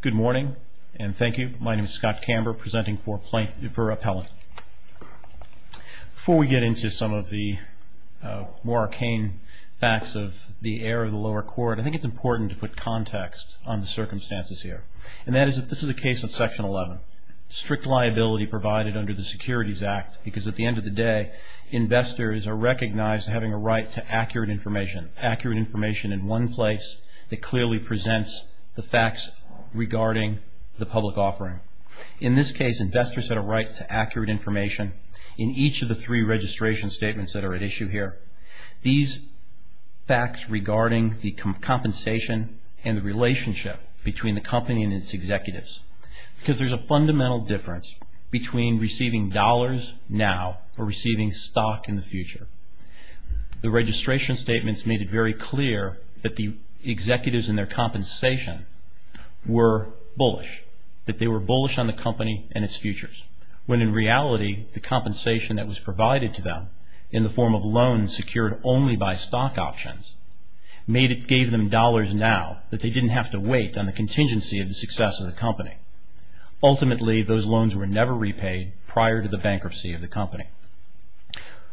Good morning, and thank you. My name is Scott Camber, presenting for Appellant. Before we get into some of the more arcane facts of the error of the lower court, I think it's important to put context on the circumstances here. And that is that this is a case of Section 11, strict liability provided under the Securities Act, because at the end of the day, investors are recognized having a right to accurate information, in one place that clearly presents the facts regarding the public offering. In this case, investors had a right to accurate information in each of the three registration statements that are at issue here. These facts regarding the compensation and the relationship between the company and its executives, because there's a fundamental difference between receiving dollars now or receiving stock in the future. The registration statements made it very clear that the executives and their compensation were bullish, that they were bullish on the company and its futures, when in reality, the compensation that was provided to them in the form of loans secured only by stock options, gave them dollars now that they didn't have to wait on the contingency of the success of the company. Ultimately, those loans were never repaid prior to the bankruptcy of the company.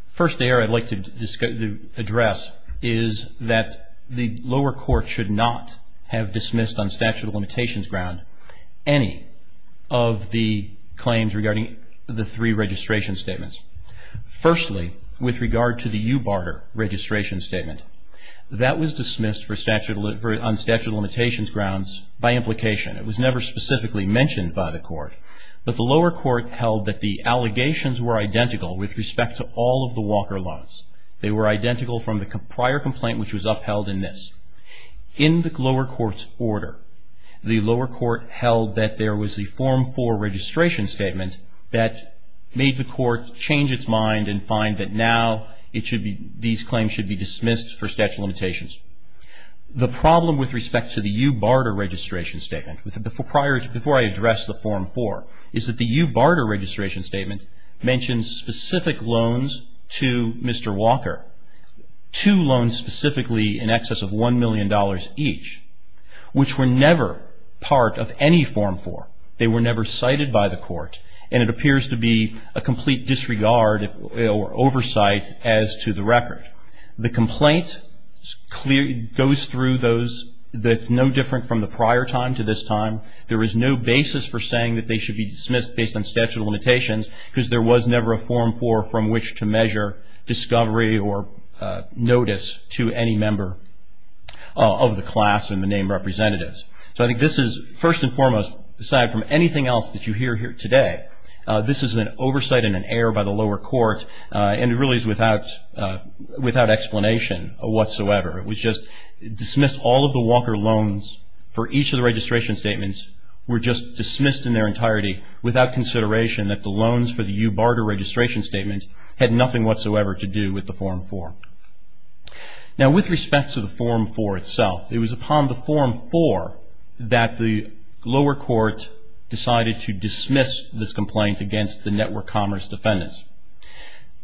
First error I'd like to address is that the lower court should not have dismissed on statute of limitations ground any of the claims regarding the three registration statements. Firstly, with regard to the U. Barter registration statement, that was dismissed on statute of limitations grounds by implication. It was never specifically mentioned by the court. But the lower court held that the allegations were identical with respect to all of the Walker loans. They were identical from the prior complaint, which was upheld in this. In the lower court's order, the lower court held that there was a Form 4 registration statement that made the court change its mind and find that now these claims should be dismissed for statute of limitations. The problem with respect to the U. Barter registration statement, before I address the Form 4, is that the U. Barter registration statement mentions specific loans to Mr. Walker. Two loans specifically in excess of $1 million each, which were never part of any Form 4. They were never cited by the court, and it appears to be a complete disregard or oversight as to the record. The complaint goes through those that's no different from the prior time to this time. There is no basis for saying that they should be dismissed based on statute of limitations because there was never a Form 4 from which to measure discovery or notice to any member of the class and the named representatives. So I think this is, first and foremost, aside from anything else that you hear here today, this is an oversight and an error by the lower court, and it really is without explanation whatsoever. It was just dismissed. All of the Walker loans for each of the registration statements were just dismissed in their entirety without consideration that the loans for the U. Barter registration statement had nothing whatsoever to do with the Form 4. Now, with respect to the Form 4 itself, it was upon the Form 4 that the lower court decided to dismiss this complaint against the Network Commerce defendants.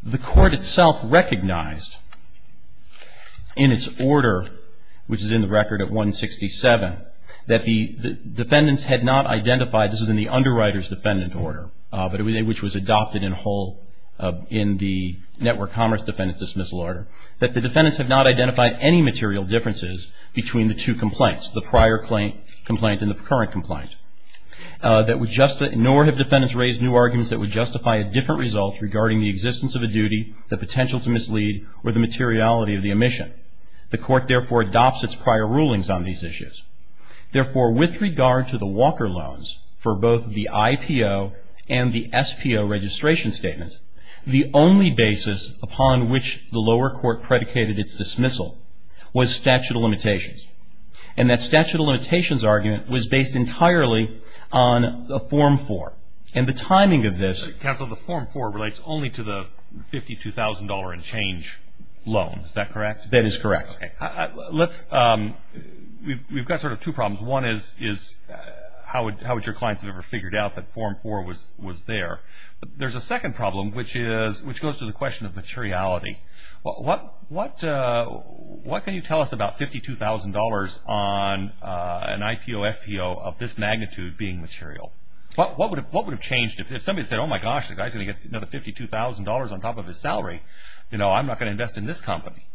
The court itself recognized in its order, which is in the record at 167, that the defendants had not identified, this is in the Underwriters Defendant Order, which was adopted in the Network Commerce Defendant Dismissal Order, that the defendants had not identified any material differences between the two complaints, the prior complaint and the current complaint, nor have defendants raised new arguments that would justify a different result regarding the existence of a duty, the potential to mislead, or the materiality of the omission. The court, therefore, adopts its prior rulings on these issues. Therefore, with regard to the Walker loans for both the IPO and the SPO registration statement, the only basis upon which the lower court predicated its dismissal was statute of limitations. And that statute of limitations argument was based entirely on the Form 4. And the timing of this. Counsel, the Form 4 relates only to the $52,000 and change loan. Is that correct? That is correct. Okay. Let's, we've got sort of two problems. One is, how would your clients have ever figured out that Form 4 was there? There's a second problem, which is, which goes to the question of materiality. What can you tell us about $52,000 on an IPO, SPO of this magnitude being material? What would have changed if somebody said, oh, my gosh, the guy's going to get another $52,000 on top of his salary. You know, I'm not going to invest in this company.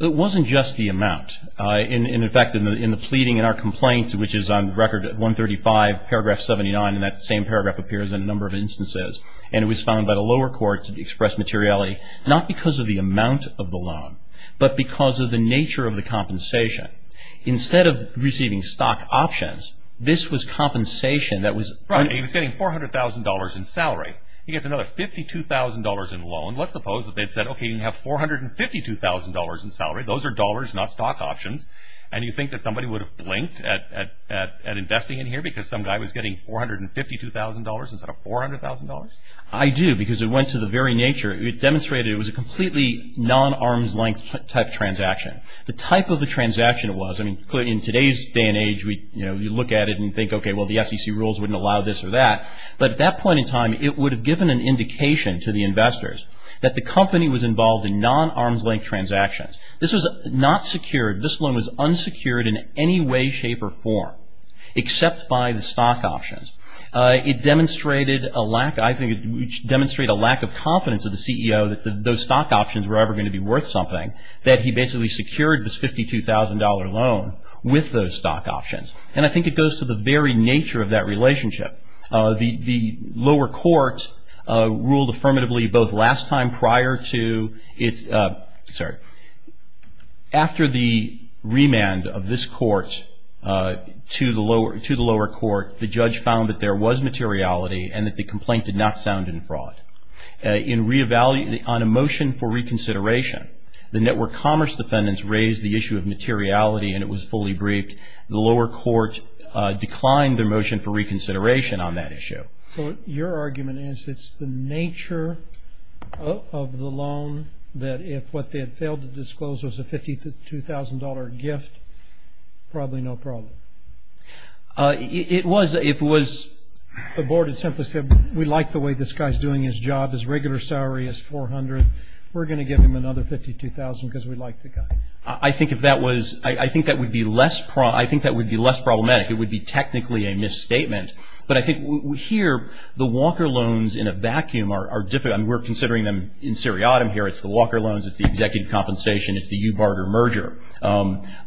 It wasn't just the amount. In fact, in the pleading in our complaints, which is on record 135, paragraph 79, and that same paragraph appears in a number of instances. And it was found by the lower court to express materiality, not because of the amount of the loan, but because of the nature of the compensation. Instead of receiving stock options, this was compensation that was... Right. He was getting $400,000 in salary. He gets another $52,000 in loan. Let's suppose that they said, okay, you have $452,000 in salary. Those are dollars, not stock options. And you think that somebody would have blinked at investing in here because some guy was getting $452,000 instead of $400,000? I do, because it went to the very nature. It demonstrated it was a completely non-arm's-length type transaction. The type of the transaction it was, I mean, in today's day and age, you look at it and think, okay, well, the SEC rules wouldn't allow this or that. But at that point in time, it would have given an indication to the investors that the company was involved in non-arm's-length transactions. This was not secured. This loan was unsecured in any way, shape, or form except by the stock options. It demonstrated a lack of confidence of the CEO that those stock options were ever going to be worth something, that he basically secured this $52,000 loan with those stock options. And I think it goes to the very nature of that relationship. The lower court ruled affirmatively both last time prior to its – sorry. After the remand of this court to the lower court, the judge found that there was materiality and that the complaint did not sound in fraud. On a motion for reconsideration, the Network Commerce defendants raised the issue of materiality, and it was fully briefed. The lower court declined their motion for reconsideration on that issue. So your argument is it's the nature of the loan that if what they had failed to disclose was a $52,000 gift, probably no problem. It was. The board had simply said, we like the way this guy's doing his job. His regular salary is $400,000. We're going to give him another $52,000 because we like the guy. I think if that was – I think that would be less – I think that would be less problematic. It would be technically a misstatement. But I think here, the Walker loans in a vacuum are difficult. I mean, we're considering them in seriatim here. It's the Walker loans, it's the executive compensation, it's the Ubarter merger.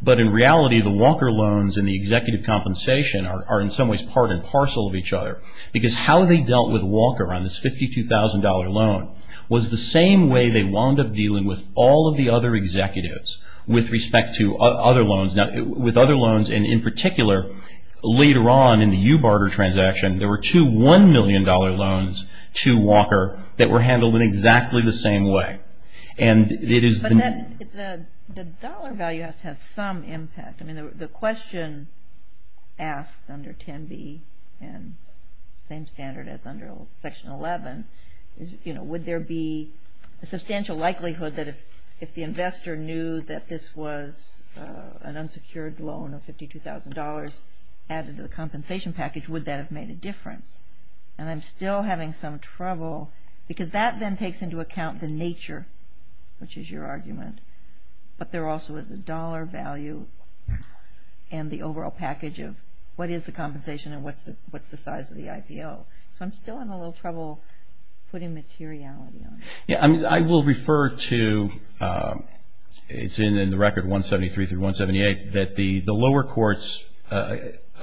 But in reality, the Walker loans and the executive compensation are in some ways part and parcel of each other because how they dealt with Walker on this $52,000 loan was the same way they wound up dealing with all of the other executives with respect to other loans. With other loans, and in particular, later on in the Ubarter transaction, there were two $1 million loans to Walker that were handled in exactly the same way. And it is – But the dollar value has to have some impact. I mean, the question asked under 10B and same standard as under Section 11 is, you know, could there be a substantial likelihood that if the investor knew that this was an unsecured loan of $52,000 added to the compensation package, would that have made a difference? And I'm still having some trouble because that then takes into account the nature, which is your argument. But there also is a dollar value and the overall package of what is the compensation and what's the size of the IPO. So I'm still having a little trouble putting materiality on it. Yeah, I mean, I will refer to – it's in the record 173 through 178 that the lower court's –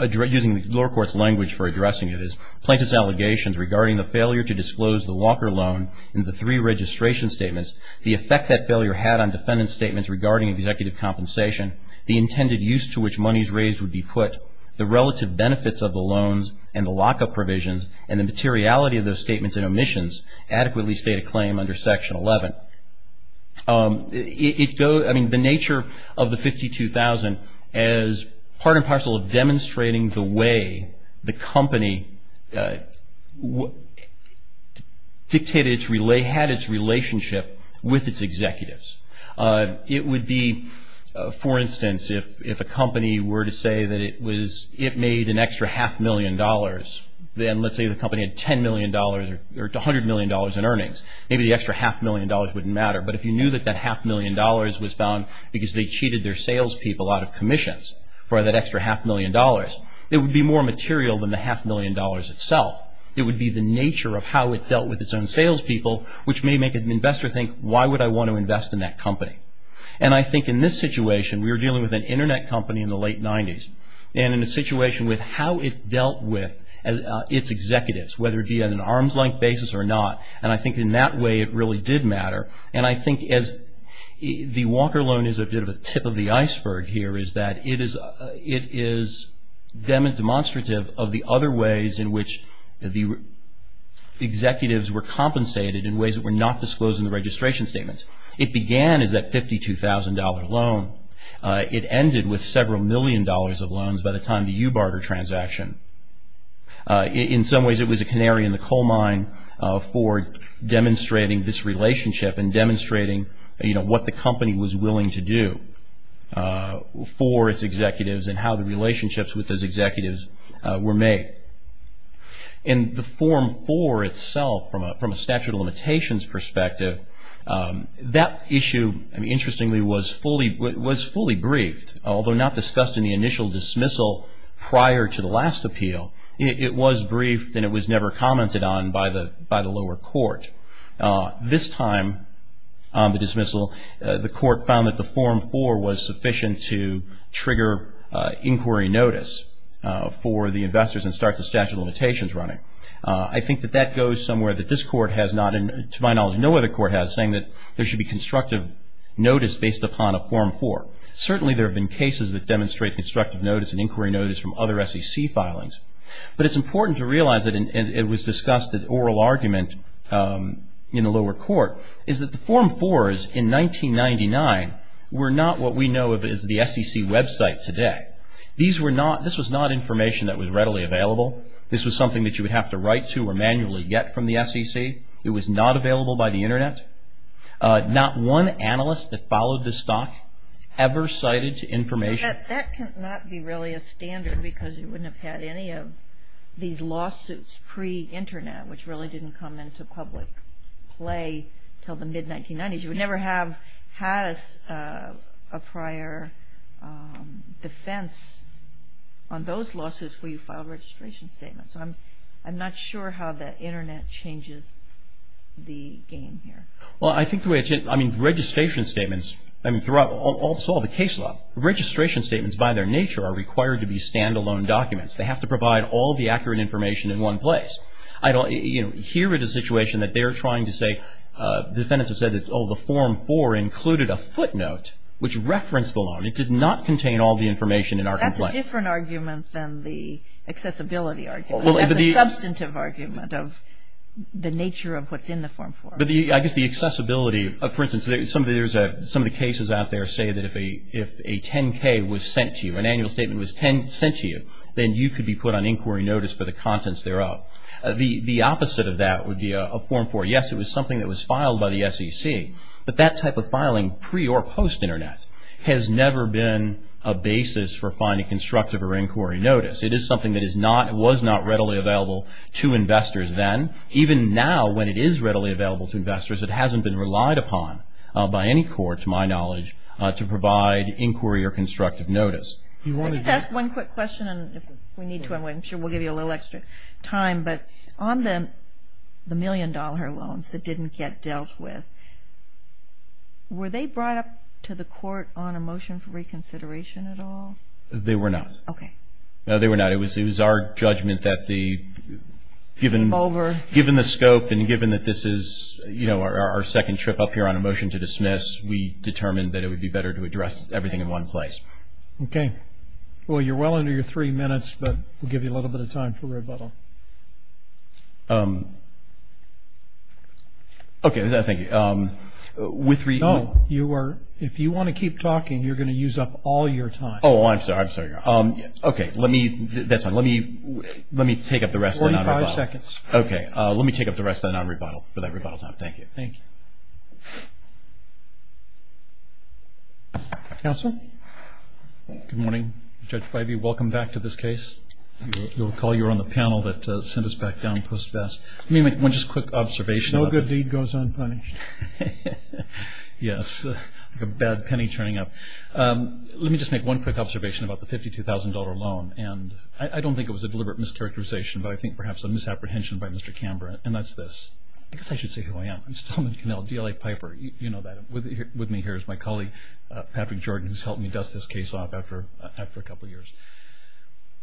using the lower court's language for addressing it is, plaintiff's allegations regarding the failure to disclose the Walker loan in the three registration statements, the effect that failure had on defendant's statements regarding executive compensation, the intended use to which money is raised would be put, the relative benefits of the loans and the lockup provisions and the materiality of those statements and omissions adequately state a claim under Section 11. I mean, the nature of the $52,000 as part and parcel of demonstrating the way the company dictated its – had its relationship with its executives. It would be, for instance, if a company were to say that it was – it made an extra half million dollars, then let's say the company had $10 million or $100 million in earnings. Maybe the extra half million dollars wouldn't matter. But if you knew that that half million dollars was found because they cheated their salespeople out of commissions for that extra half million dollars, it would be more material than the half million dollars itself. It would be the nature of how it dealt with its own salespeople, which may make an investor think, why would I want to invest in that company? And I think in this situation, we were dealing with an Internet company in the late 90s. And in a situation with how it dealt with its executives, whether it be on an arms-length basis or not, and I think in that way it really did matter. And I think as the Walker loan is a bit of a tip of the iceberg here, is that it is demonstrative of the other ways in which the executives were compensated in ways that were not disclosed in the registration statements. It began as that $52,000 loan. It ended with several million dollars of loans by the time the Ubarter transaction. In some ways, it was a canary in the coal mine for demonstrating this relationship and demonstrating what the company was willing to do for its executives and how the relationships with those executives were made. In the Form 4 itself, from a statute of limitations perspective, that issue, interestingly, was fully briefed. Although not discussed in the initial dismissal prior to the last appeal, it was briefed and it was never commented on by the lower court. This time on the dismissal, the court found that the Form 4 was sufficient to trigger inquiry notice for the investors and start the statute of limitations running. I think that that goes somewhere that this court has not, and to my knowledge no other court has, saying that there should be constructive notice based upon a Form 4. Certainly there have been cases that demonstrate constructive notice and inquiry notice from other SEC filings. But it's important to realize, and it was discussed at oral argument in the lower court, is that the Form 4s in 1999 were not what we know of as the SEC website today. This was not information that was readily available. This was something that you would have to write to or manually get from the SEC. It was not available by the Internet. Not one analyst that followed the stock ever cited information. That cannot be really a standard because you wouldn't have had any of these lawsuits pre-Internet which really didn't come into public play until the mid-1990s. You would never have had a prior defense on those lawsuits where you filed registration statements. So I'm not sure how the Internet changes the game here. Well, I think the way it's, I mean, registration statements, I mean, throughout all the case law, registration statements by their nature are required to be stand-alone documents. They have to provide all the accurate information in one place. I don't hear it as a situation that they're trying to say, the defendants have said, oh, the Form 4 included a footnote which referenced the loan. It did not contain all the information in our complaint. That's a different argument than the accessibility argument. That's a substantive argument of the nature of what's in the Form 4. I guess the accessibility, for instance, some of the cases out there say that if a 10-K was sent to you, an annual statement was sent to you, then you could be put on inquiry notice for the contents thereof. The opposite of that would be a Form 4. Yes, it was something that was filed by the SEC, but that type of filing pre- or post-Internet has never been a basis for finding constructive or inquiry notice. It is something that is not, was not readily available to investors then. Even now, when it is readily available to investors, it hasn't been relied upon by any court, to my knowledge, to provide inquiry or constructive notice. Let me ask one quick question, and if we need to, I'm sure we'll give you a little extra time, but on the million-dollar loans that didn't get dealt with, were they brought up to the court on a motion for reconsideration at all? They were not. Okay. No, they were not. It was our judgment that given the scope and given that this is, you know, our second trip up here on a motion to dismiss, we determined that it would be better to address everything in one place. Okay. Well, you're well under your three minutes, but we'll give you a little bit of time for rebuttal. Okay. Thank you. No, you are, if you want to keep talking, you're going to use up all your time. Oh, I'm sorry. Okay. Let me, that's fine. Let me take up the rest of the non-rebuttal. Forty-five seconds. Okay. Let me take up the rest of the non-rebuttal for that rebuttal time. Thank you. Thank you. Counsel? Good morning, Judge Bivey. Welcome back to this case. You'll recall you were on the panel that sent us back down post-best. Let me make one just quick observation. No good deed goes unpunished. Yes, like a bad penny turning up. Let me just make one quick observation about the $52,000 loan, and I don't think it was a deliberate mischaracterization, but I think perhaps a misapprehension by Mr. Canberra, and that's this. I guess I should say who I am. I'm Stillman Connell, DLA Piper. You know that. With me here is my colleague, Patrick Jordan, who's helped me dust this case off after a couple years.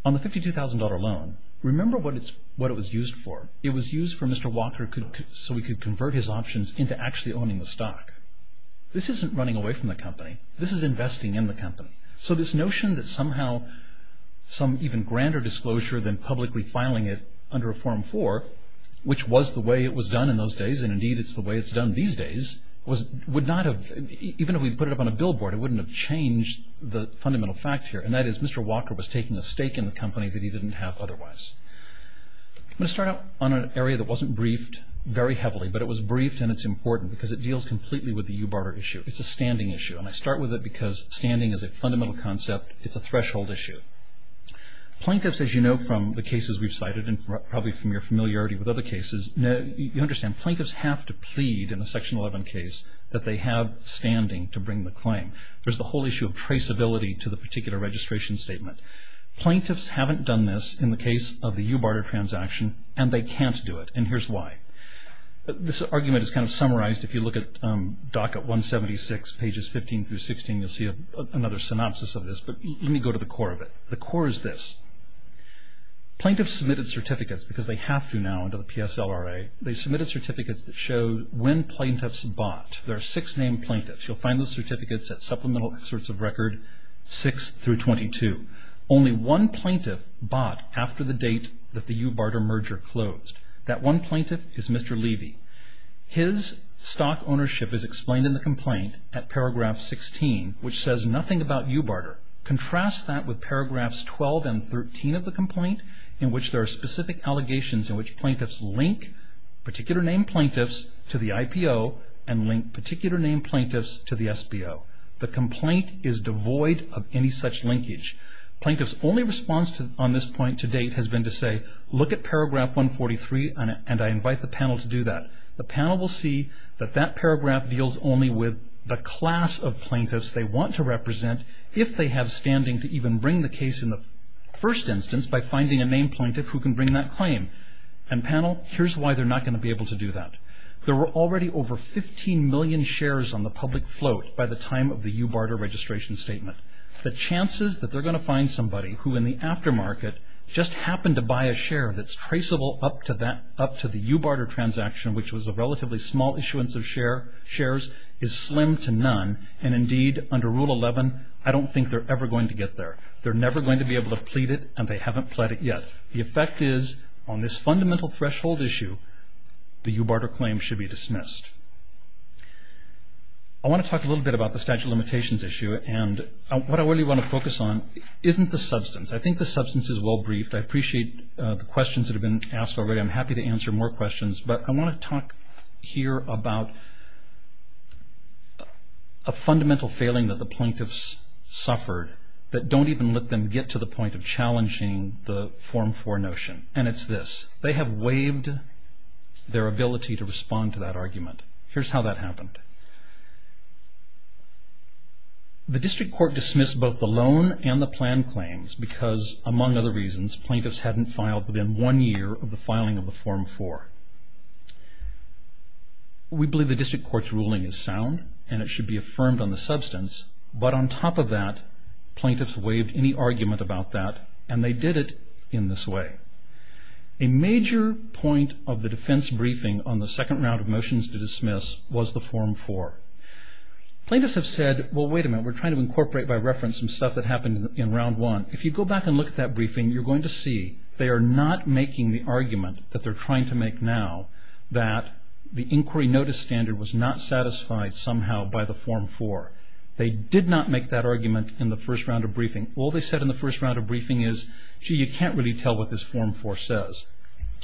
On the $52,000 loan, remember what it was used for. It was used for Mr. Walker so he could convert his options into actually owning the stock. This isn't running away from the company. This is investing in the company. So this notion that somehow some even grander disclosure than publicly filing it under a Form 4, which was the way it was done in those days, and indeed it's the way it's done these days, would not have, even if we put it up on a billboard, it wouldn't have changed the fundamental fact here, and that is Mr. Walker was taking a stake in the company that he didn't have otherwise. I'm going to start out on an area that wasn't briefed very heavily, but it was briefed, and it's important because it deals completely with the u-barter issue. It's a standing issue, and I start with it because standing is a fundamental concept. It's a threshold issue. Plaintiffs, as you know from the cases we've cited and probably from your familiarity with other cases, you understand plaintiffs have to plead in a Section 11 case that they have standing to bring the claim. There's the whole issue of traceability to the particular registration statement. Plaintiffs haven't done this in the case of the u-barter transaction, and they can't do it, and here's why. This argument is kind of summarized. If you look at docket 176, pages 15 through 16, you'll see another synopsis of this, but let me go to the core of it. The core is this. Plaintiffs submitted certificates because they have to now under the PSLRA. They submitted certificates that show when plaintiffs bought. There are six named plaintiffs. You'll find those certificates at supplemental excerpts of record 6 through 22. Only one plaintiff bought after the date that the u-barter merger closed. That one plaintiff is Mr. Levy. His stock ownership is explained in the complaint at paragraph 16, which says nothing about u-barter. Contrast that with paragraphs 12 and 13 of the complaint in which there are specific allegations in which plaintiffs link particular named plaintiffs to the IPO and link particular named plaintiffs to the SBO. The complaint is devoid of any such linkage. Plaintiffs' only response on this point to date has been to say, look at paragraph 143, and I invite the panel to do that. The panel will see that that paragraph deals only with the class of plaintiffs they want to represent if they have standing to even bring the case in the first instance by finding a named plaintiff who can bring that claim. Panel, here's why they're not going to be able to do that. There were already over 15 million shares on the public float by the time of the u-barter registration statement. The chances that they're going to find somebody who in the aftermarket just happened to buy a share that's traceable up to the u-barter transaction, which was a relatively small issuance of shares, is slim to none. And indeed, under Rule 11, I don't think they're ever going to get there. They're never going to be able to plead it, and they haven't pled it yet. The effect is on this fundamental threshold issue, the u-barter claim should be dismissed. I want to talk a little bit about the statute of limitations issue, and what I really want to focus on isn't the substance. I think the substance is well-briefed. I appreciate the questions that have been asked already. I'm happy to answer more questions, but I want to talk here about a fundamental failing that the plaintiffs suffered that don't even let them get to the point of challenging the Form 4 notion, and it's this. They have waived their ability to respond to that argument. Here's how that happened. The district court dismissed both the loan and the plan claims because, among other reasons, plaintiffs hadn't filed within one year of the filing of the Form 4. We believe the district court's ruling is sound, and it should be affirmed on the substance, but on top of that, plaintiffs waived any argument about that, and they did it in this way. A major point of the defense briefing on the second round of motions to dismiss was the Form 4. Plaintiffs have said, well, wait a minute. We're trying to incorporate by reference some stuff that happened in Round 1. If you go back and look at that briefing, you're going to see they are not making the argument that they're trying to make now that the inquiry notice standard was not satisfied somehow by the Form 4. They did not make that argument in the first round of briefing. All they said in the first round of briefing is, gee, you can't really tell what this Form 4 says.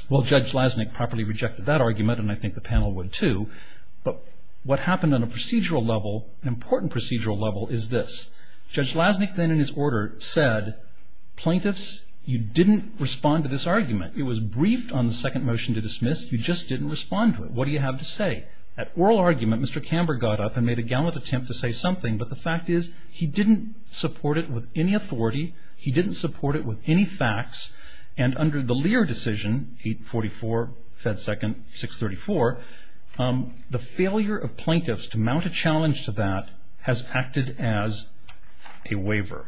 Well, Judge Lasnik properly rejected that argument, and I think the panel would too, but what happened on a procedural level, an important procedural level, is this. Judge Lasnik then in his order said, plaintiffs, you didn't respond to this argument. It was briefed on the second motion to dismiss. You just didn't respond to it. What do you have to say? That oral argument, Mr. Camber got up and made a gallant attempt to say something, but the fact is he didn't support it with any authority. He didn't support it with any facts, and under the Lear decision, 844, Fed Second, 634, the failure of plaintiffs to mount a challenge to that has acted as a waiver.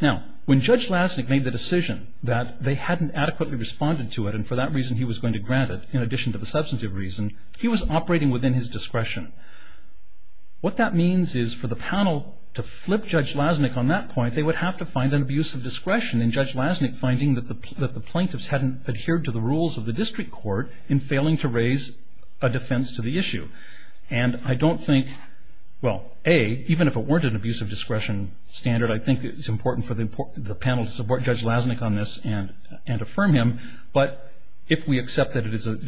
Now, when Judge Lasnik made the decision that they hadn't adequately responded to it and for that reason he was going to grant it in addition to the substantive reason, he was operating within his discretion. What that means is for the panel to flip Judge Lasnik on that point, they would have to find an abuse of discretion in Judge Lasnik finding that the plaintiffs hadn't adhered to the rules of the district court in failing to raise a defense to the issue. And I don't think, well, A, even if it weren't an abuse of discretion standard, I think it's important for the panel to support Judge Lasnik on this and affirm him, but if we accept that it is an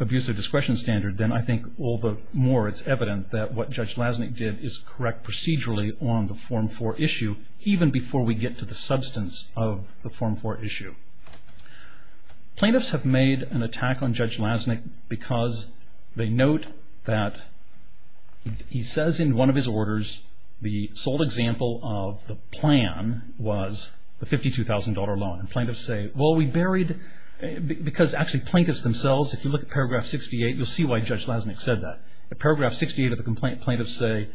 abuse of discretion standard, then I think all the more it's evident that what Judge Lasnik did is correct procedurally on the Form 4 issue, even before we get to the substance of the Form 4 issue. Plaintiffs have made an attack on Judge Lasnik because they note that he says in one of his orders, the sole example of the plan was the $52,000 loan. And plaintiffs say, well, we buried, because actually plaintiffs themselves, if you look at paragraph 68, you'll see why Judge Lasnik said that. At paragraph 68 of the complaint, plaintiffs say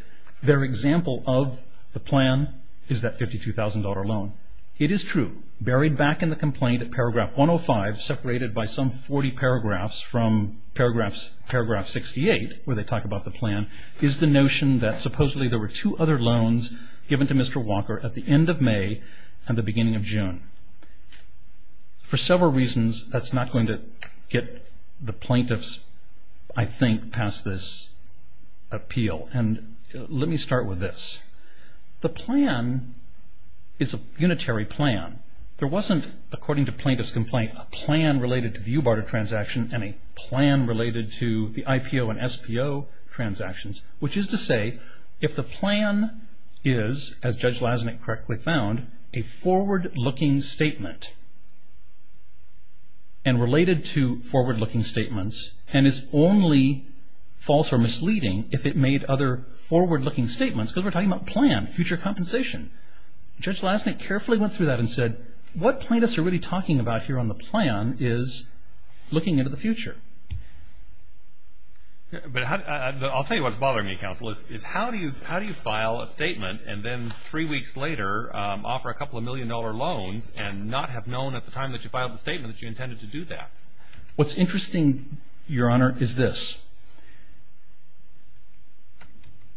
their example of the plan is that $52,000 loan. It is true. Buried back in the complaint at paragraph 105, separated by some 40 paragraphs from paragraph 68 where they talk about the plan, is the notion that supposedly there were two other loans given to Mr. Walker at the end of May and the beginning of June. For several reasons, that's not going to get the plaintiffs, I think, past this appeal. And let me start with this. The plan is a unitary plan. There wasn't, according to plaintiff's complaint, a plan related to view barter transaction and a plan related to the IPO and SPO transactions, which is to say if the plan is, as Judge Lasnik correctly found, a forward-looking statement and related to forward-looking statements and is only false or misleading if it made other forward-looking statements, because we're talking about plan, future compensation. Judge Lasnik carefully went through that and said, what plaintiffs are really talking about here on the plan is looking into the future. I'll tell you what's bothering me, Counsel, is how do you file a statement and then three weeks later offer a couple of million-dollar loans and not have known at the time that you filed the statement that you intended to do that? What's interesting, Your Honor, is this.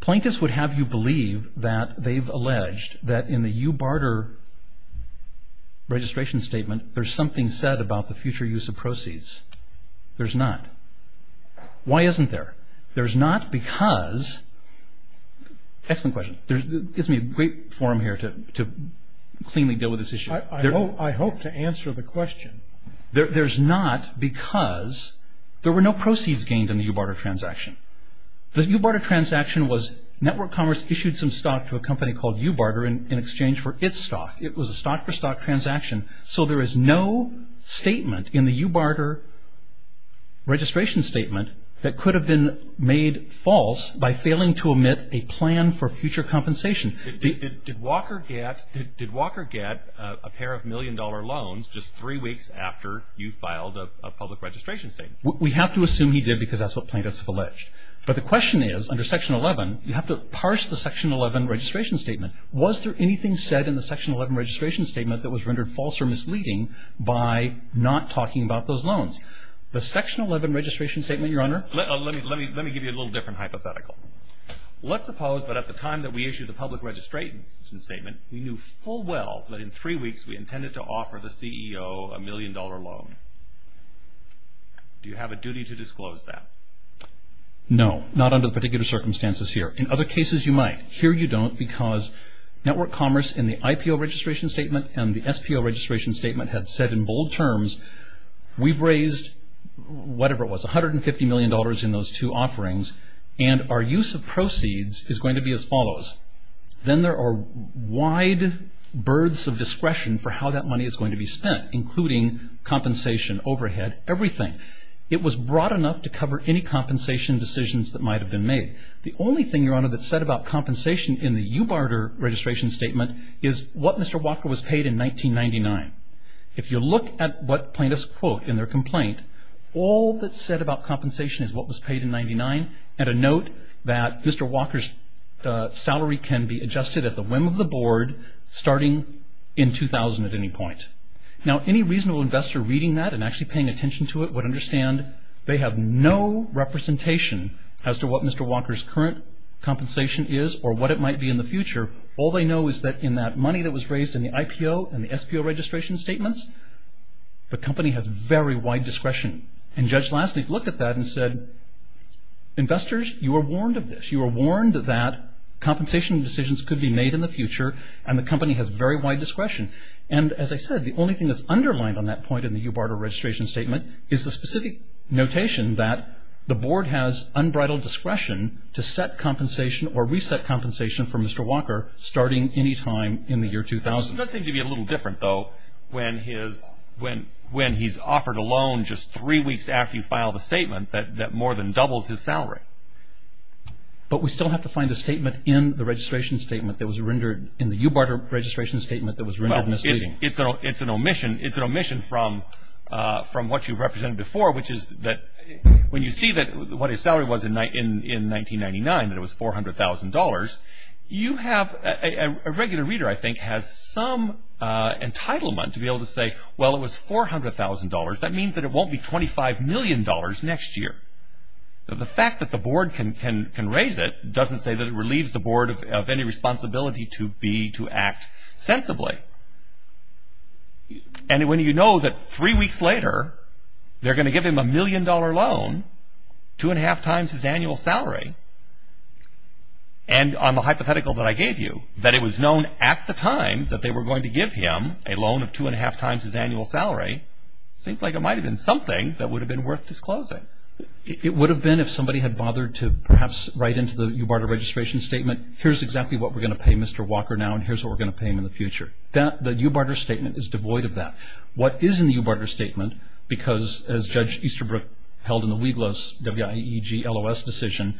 Plaintiffs would have you believe that they've alleged that in the view barter registration statement there's something said about the future use of proceeds. There's not. Why isn't there? There's not because... Excellent question. Gives me a great forum here to cleanly deal with this issue. I hope to answer the question. There's not because there were no proceeds gained in the view barter transaction. The view barter transaction was network commerce issued some stock to a company called view barter in exchange for its stock. It was a stock-for-stock transaction. So there is no statement in the view barter registration statement that could have been made false by failing to omit a plan for future compensation. Did Walker get a pair of million-dollar loans just three weeks after you filed a public registration statement? We have to assume he did because that's what plaintiffs have alleged. But the question is, under Section 11, you have to parse the Section 11 registration statement. Was there anything said in the Section 11 registration statement that was rendered false or misleading by not talking about those loans? The Section 11 registration statement, Your Honor... Let me give you a little different hypothetical. Let's suppose that at the time that we issued the public registration statement, we knew full well that in three weeks we intended to offer the CEO a million-dollar loan. Do you have a duty to disclose that? No, not under the particular circumstances here. In other cases you might. Here you don't because network commerce in the IPO registration statement and the SPO registration statement had said in bold terms, we've raised, whatever it was, $150 million in those two offerings and our use of proceeds is going to be as follows. Then there are wide berths of discretion for how that money is going to be spent, including compensation, overhead, everything. It was broad enough to cover any compensation decisions that might have been made. The only thing, Your Honor, that's said about compensation in the Ubarter registration statement is what Mr. Walker was paid in 1999. If you look at what plaintiffs quote in their complaint, all that's said about compensation is what was paid in 1999 and a note that Mr. Walker's salary can be adjusted at the whim of the board starting in 2000 at any point. Now, any reasonable investor reading that and actually paying attention to it would understand they have no representation as to what Mr. Walker's current compensation is or what it might be in the future. All they know is that in that money that was raised in the IPO and the SPO registration statements, the company has very wide discretion. And Judge Lassley looked at that and said, investors, you are warned of this. You are warned that compensation decisions could be made in the future and the company has very wide discretion. And as I said, the only thing that's underlined on that point in the Ubarter registration statement is the specific notation that the board has unbridled discretion to set compensation or reset compensation for Mr. Walker starting any time in the year 2000. It does seem to be a little different, though, when he's offered a loan just three weeks after you file the statement that more than doubles his salary. But we still have to find a statement in the registration statement that was rendered in the Ubarter registration statement that was rendered misleading. It's an omission. It's an omission from what you represented before, which is that when you see what his salary was in 1999, that it was $400,000, you have a regular reader, I think, has some entitlement to be able to say, well, it was $400,000. That means that it won't be $25 million next year. The fact that the board can raise it doesn't say that it relieves the board of any responsibility to act sensibly. And when you know that three weeks later they're going to give him a million-dollar loan, two-and-a-half times his annual salary, and on the hypothetical that I gave you, that it was known at the time that they were going to give him a loan of two-and-a-half times his annual salary, seems like it might have been something that would have been worth disclosing. It would have been if somebody had bothered to perhaps write into the Ubarter registration statement, here's exactly what we're going to pay Mr. Walker now, and here's what we're going to pay him in the future. The Ubarter statement is devoid of that. What is in the Ubarter statement, because as Judge Easterbrook held in the WIEGLOS, W-I-E-G-L-O-S, decision,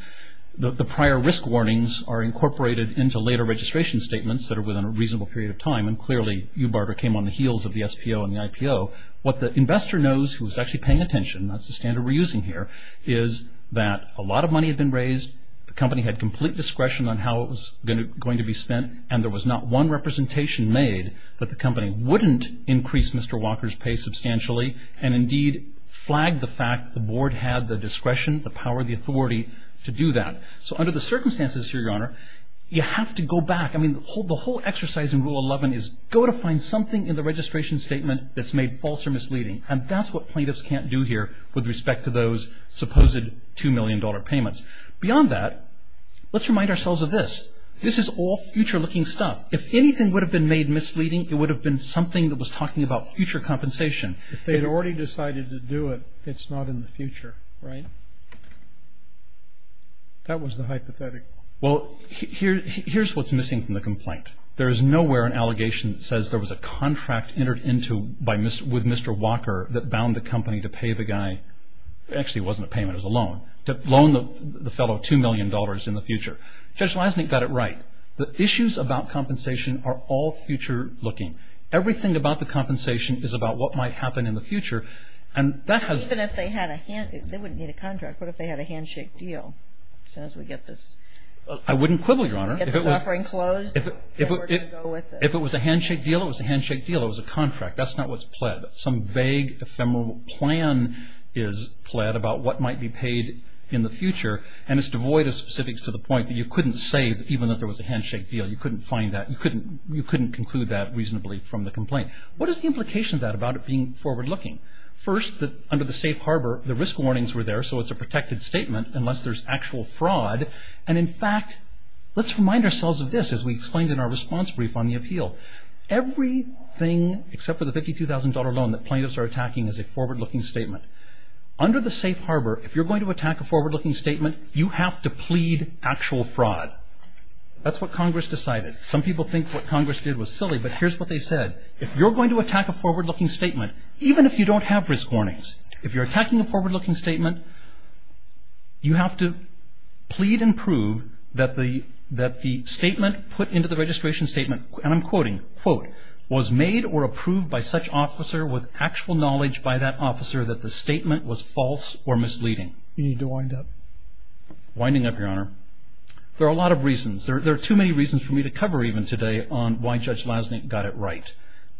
the prior risk warnings are incorporated into later registration statements that are within a reasonable period of time, and clearly Ubarter came on the heels of the SPO and the IPO. What the investor knows, who is actually paying attention, and that's the standard we're using here, is that a lot of money had been raised, the company had complete discretion on how it was going to be spent, and there was not one representation made that the company wouldn't increase Mr. Walker's pay substantially, and indeed flagged the fact that the board had the discretion, the power, the authority to do that. So under the circumstances here, Your Honor, you have to go back. I mean, the whole exercise in Rule 11 is go to find something in the registration statement that's made false or misleading, and that's what plaintiffs can't do here with respect to those supposed $2 million payments. Beyond that, let's remind ourselves of this. This is all future-looking stuff. If anything would have been made misleading, it would have been something that was talking about future compensation. If they had already decided to do it, it's not in the future. Right. That was the hypothetical. Well, here's what's missing from the complaint. There is nowhere an allegation that says there was a contract entered into with Mr. Walker that bound the company to pay the guy, actually it wasn't a payment, it was a loan, to loan the fellow $2 million in the future. Judge Leisnick got it right. The issues about compensation are all future-looking. Everything about the compensation is about what might happen in the future, and that has... Even if they had a hand... they wouldn't need a contract. What if they had a handshake deal? As soon as we get this... I wouldn't quibble, Your Honor. Get this offering closed, and we're going to go with it. If it was a handshake deal, it was a handshake deal. It was a contract. That's not what's pled. Some vague, ephemeral plan is pled about what might be paid in the future, and it's devoid of specifics to the point that you couldn't say even if there was a handshake deal. You couldn't find that. You couldn't conclude that reasonably from the complaint. What is the implication of that about it being forward-looking? First, under the safe harbor, the risk warnings were there, so it's a protected statement unless there's actual fraud. And in fact, let's remind ourselves of this, as we explained in our response brief on the appeal. Everything except for the $52,000 loan that plaintiffs are attacking is a forward-looking statement. Under the safe harbor, if you're going to attack a forward-looking statement, you have to plead actual fraud. That's what Congress decided. Some people think what Congress did was silly, but here's what they said. If you're going to attack a forward-looking statement, even if you don't have risk warnings, if you're attacking a forward-looking statement, you have to plead and prove that the statement put into the registration statement, and I'm quoting, quote, was made or approved by such officer with actual knowledge by that officer that the statement was false or misleading. You need to wind up. Winding up, Your Honor. There are a lot of reasons. There are too many reasons for me to cover even today on why Judge Lasnik got it right.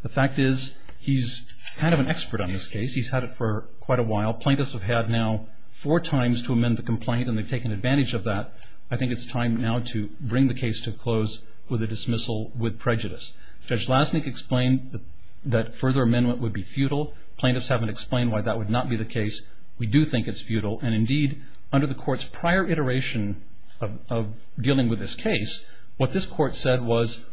The fact is he's kind of an expert on this case. He's had it for quite a while. Plaintiffs have had now four times to amend the complaint, and they've taken advantage of that. I think it's time now to bring the case to a close with a dismissal with prejudice. Judge Lasnik explained that further amendment would be futile. Plaintiffs haven't explained why that would not be the case. We do think it's futile, and indeed under the court's prior iteration of dealing with this case, what this court said was,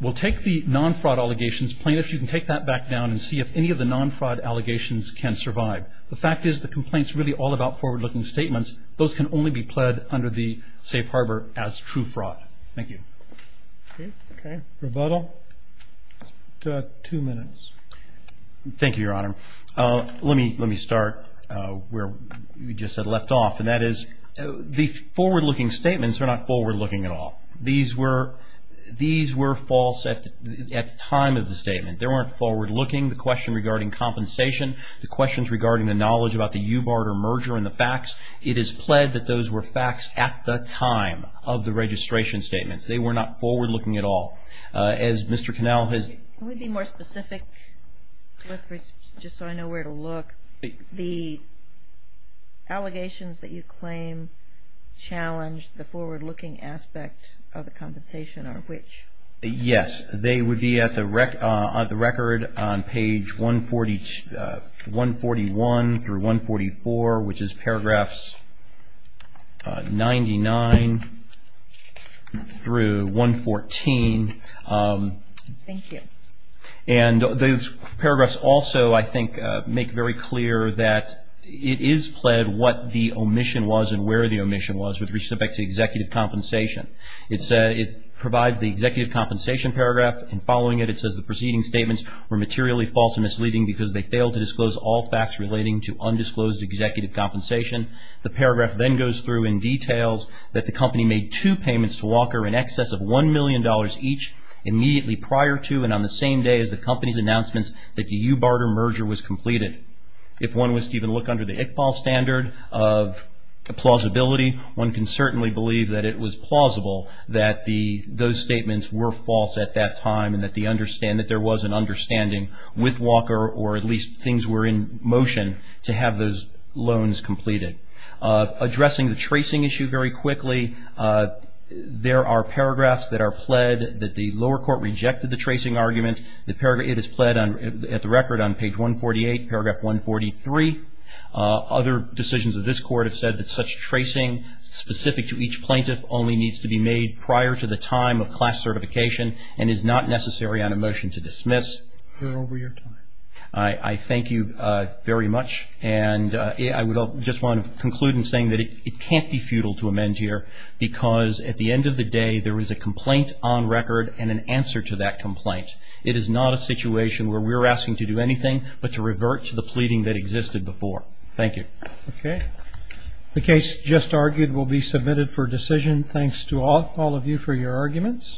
we'll take the non-fraud allegations. Plaintiffs, you can take that back down and see if any of the non-fraud allegations can survive. The fact is the complaint's really all about forward-looking statements. Those can only be pled under the safe harbor as true fraud. Thank you. Okay. Rebuttal? Two minutes. Thank you, Your Honor. Let me start where we just had left off, and that is the forward-looking statements are not forward-looking at all. These were false at the time of the statement. They weren't forward-looking. The question regarding compensation, the questions regarding the knowledge about the U-barter merger and the facts, it is pled that those were facts at the time of the registration statements. They were not forward-looking at all. As Mr. Connell has ---- Can we be more specific just so I know where to look? The allegations that you claim challenged the forward-looking aspect of the compensation are which? Yes. They would be at the record on page 141 through 144, which is paragraphs 99 through 114. Thank you. And those paragraphs also, I think, make very clear that it is pled what the omission was and where the omission was with respect to executive compensation. It provides the executive compensation paragraph, and following it, it says the preceding statements were materially false and misleading because they failed to disclose all facts relating to undisclosed executive compensation. $1 million each immediately prior to and on the same day as the company's announcements that the U-barter merger was completed. If one was to even look under the ICPAL standard of plausibility, one can certainly believe that it was plausible that those statements were false at that time and that there was an understanding with Walker, or at least things were in motion to have those loans completed. Addressing the tracing issue very quickly, there are paragraphs that are pled that the lower court rejected the tracing argument. It is pled at the record on page 148, paragraph 143. Other decisions of this court have said that such tracing specific to each plaintiff only needs to be made prior to the time of class certification and is not necessary on a motion to dismiss. We're over your time. I thank you very much. And I would just want to conclude in saying that it can't be futile to amend here because at the end of the day there is a complaint on record and an answer to that complaint. It is not a situation where we're asking to do anything but to revert to the pleading that existed before. Thank you. Okay. The case just argued will be submitted for decision. Thanks to all of you for your arguments.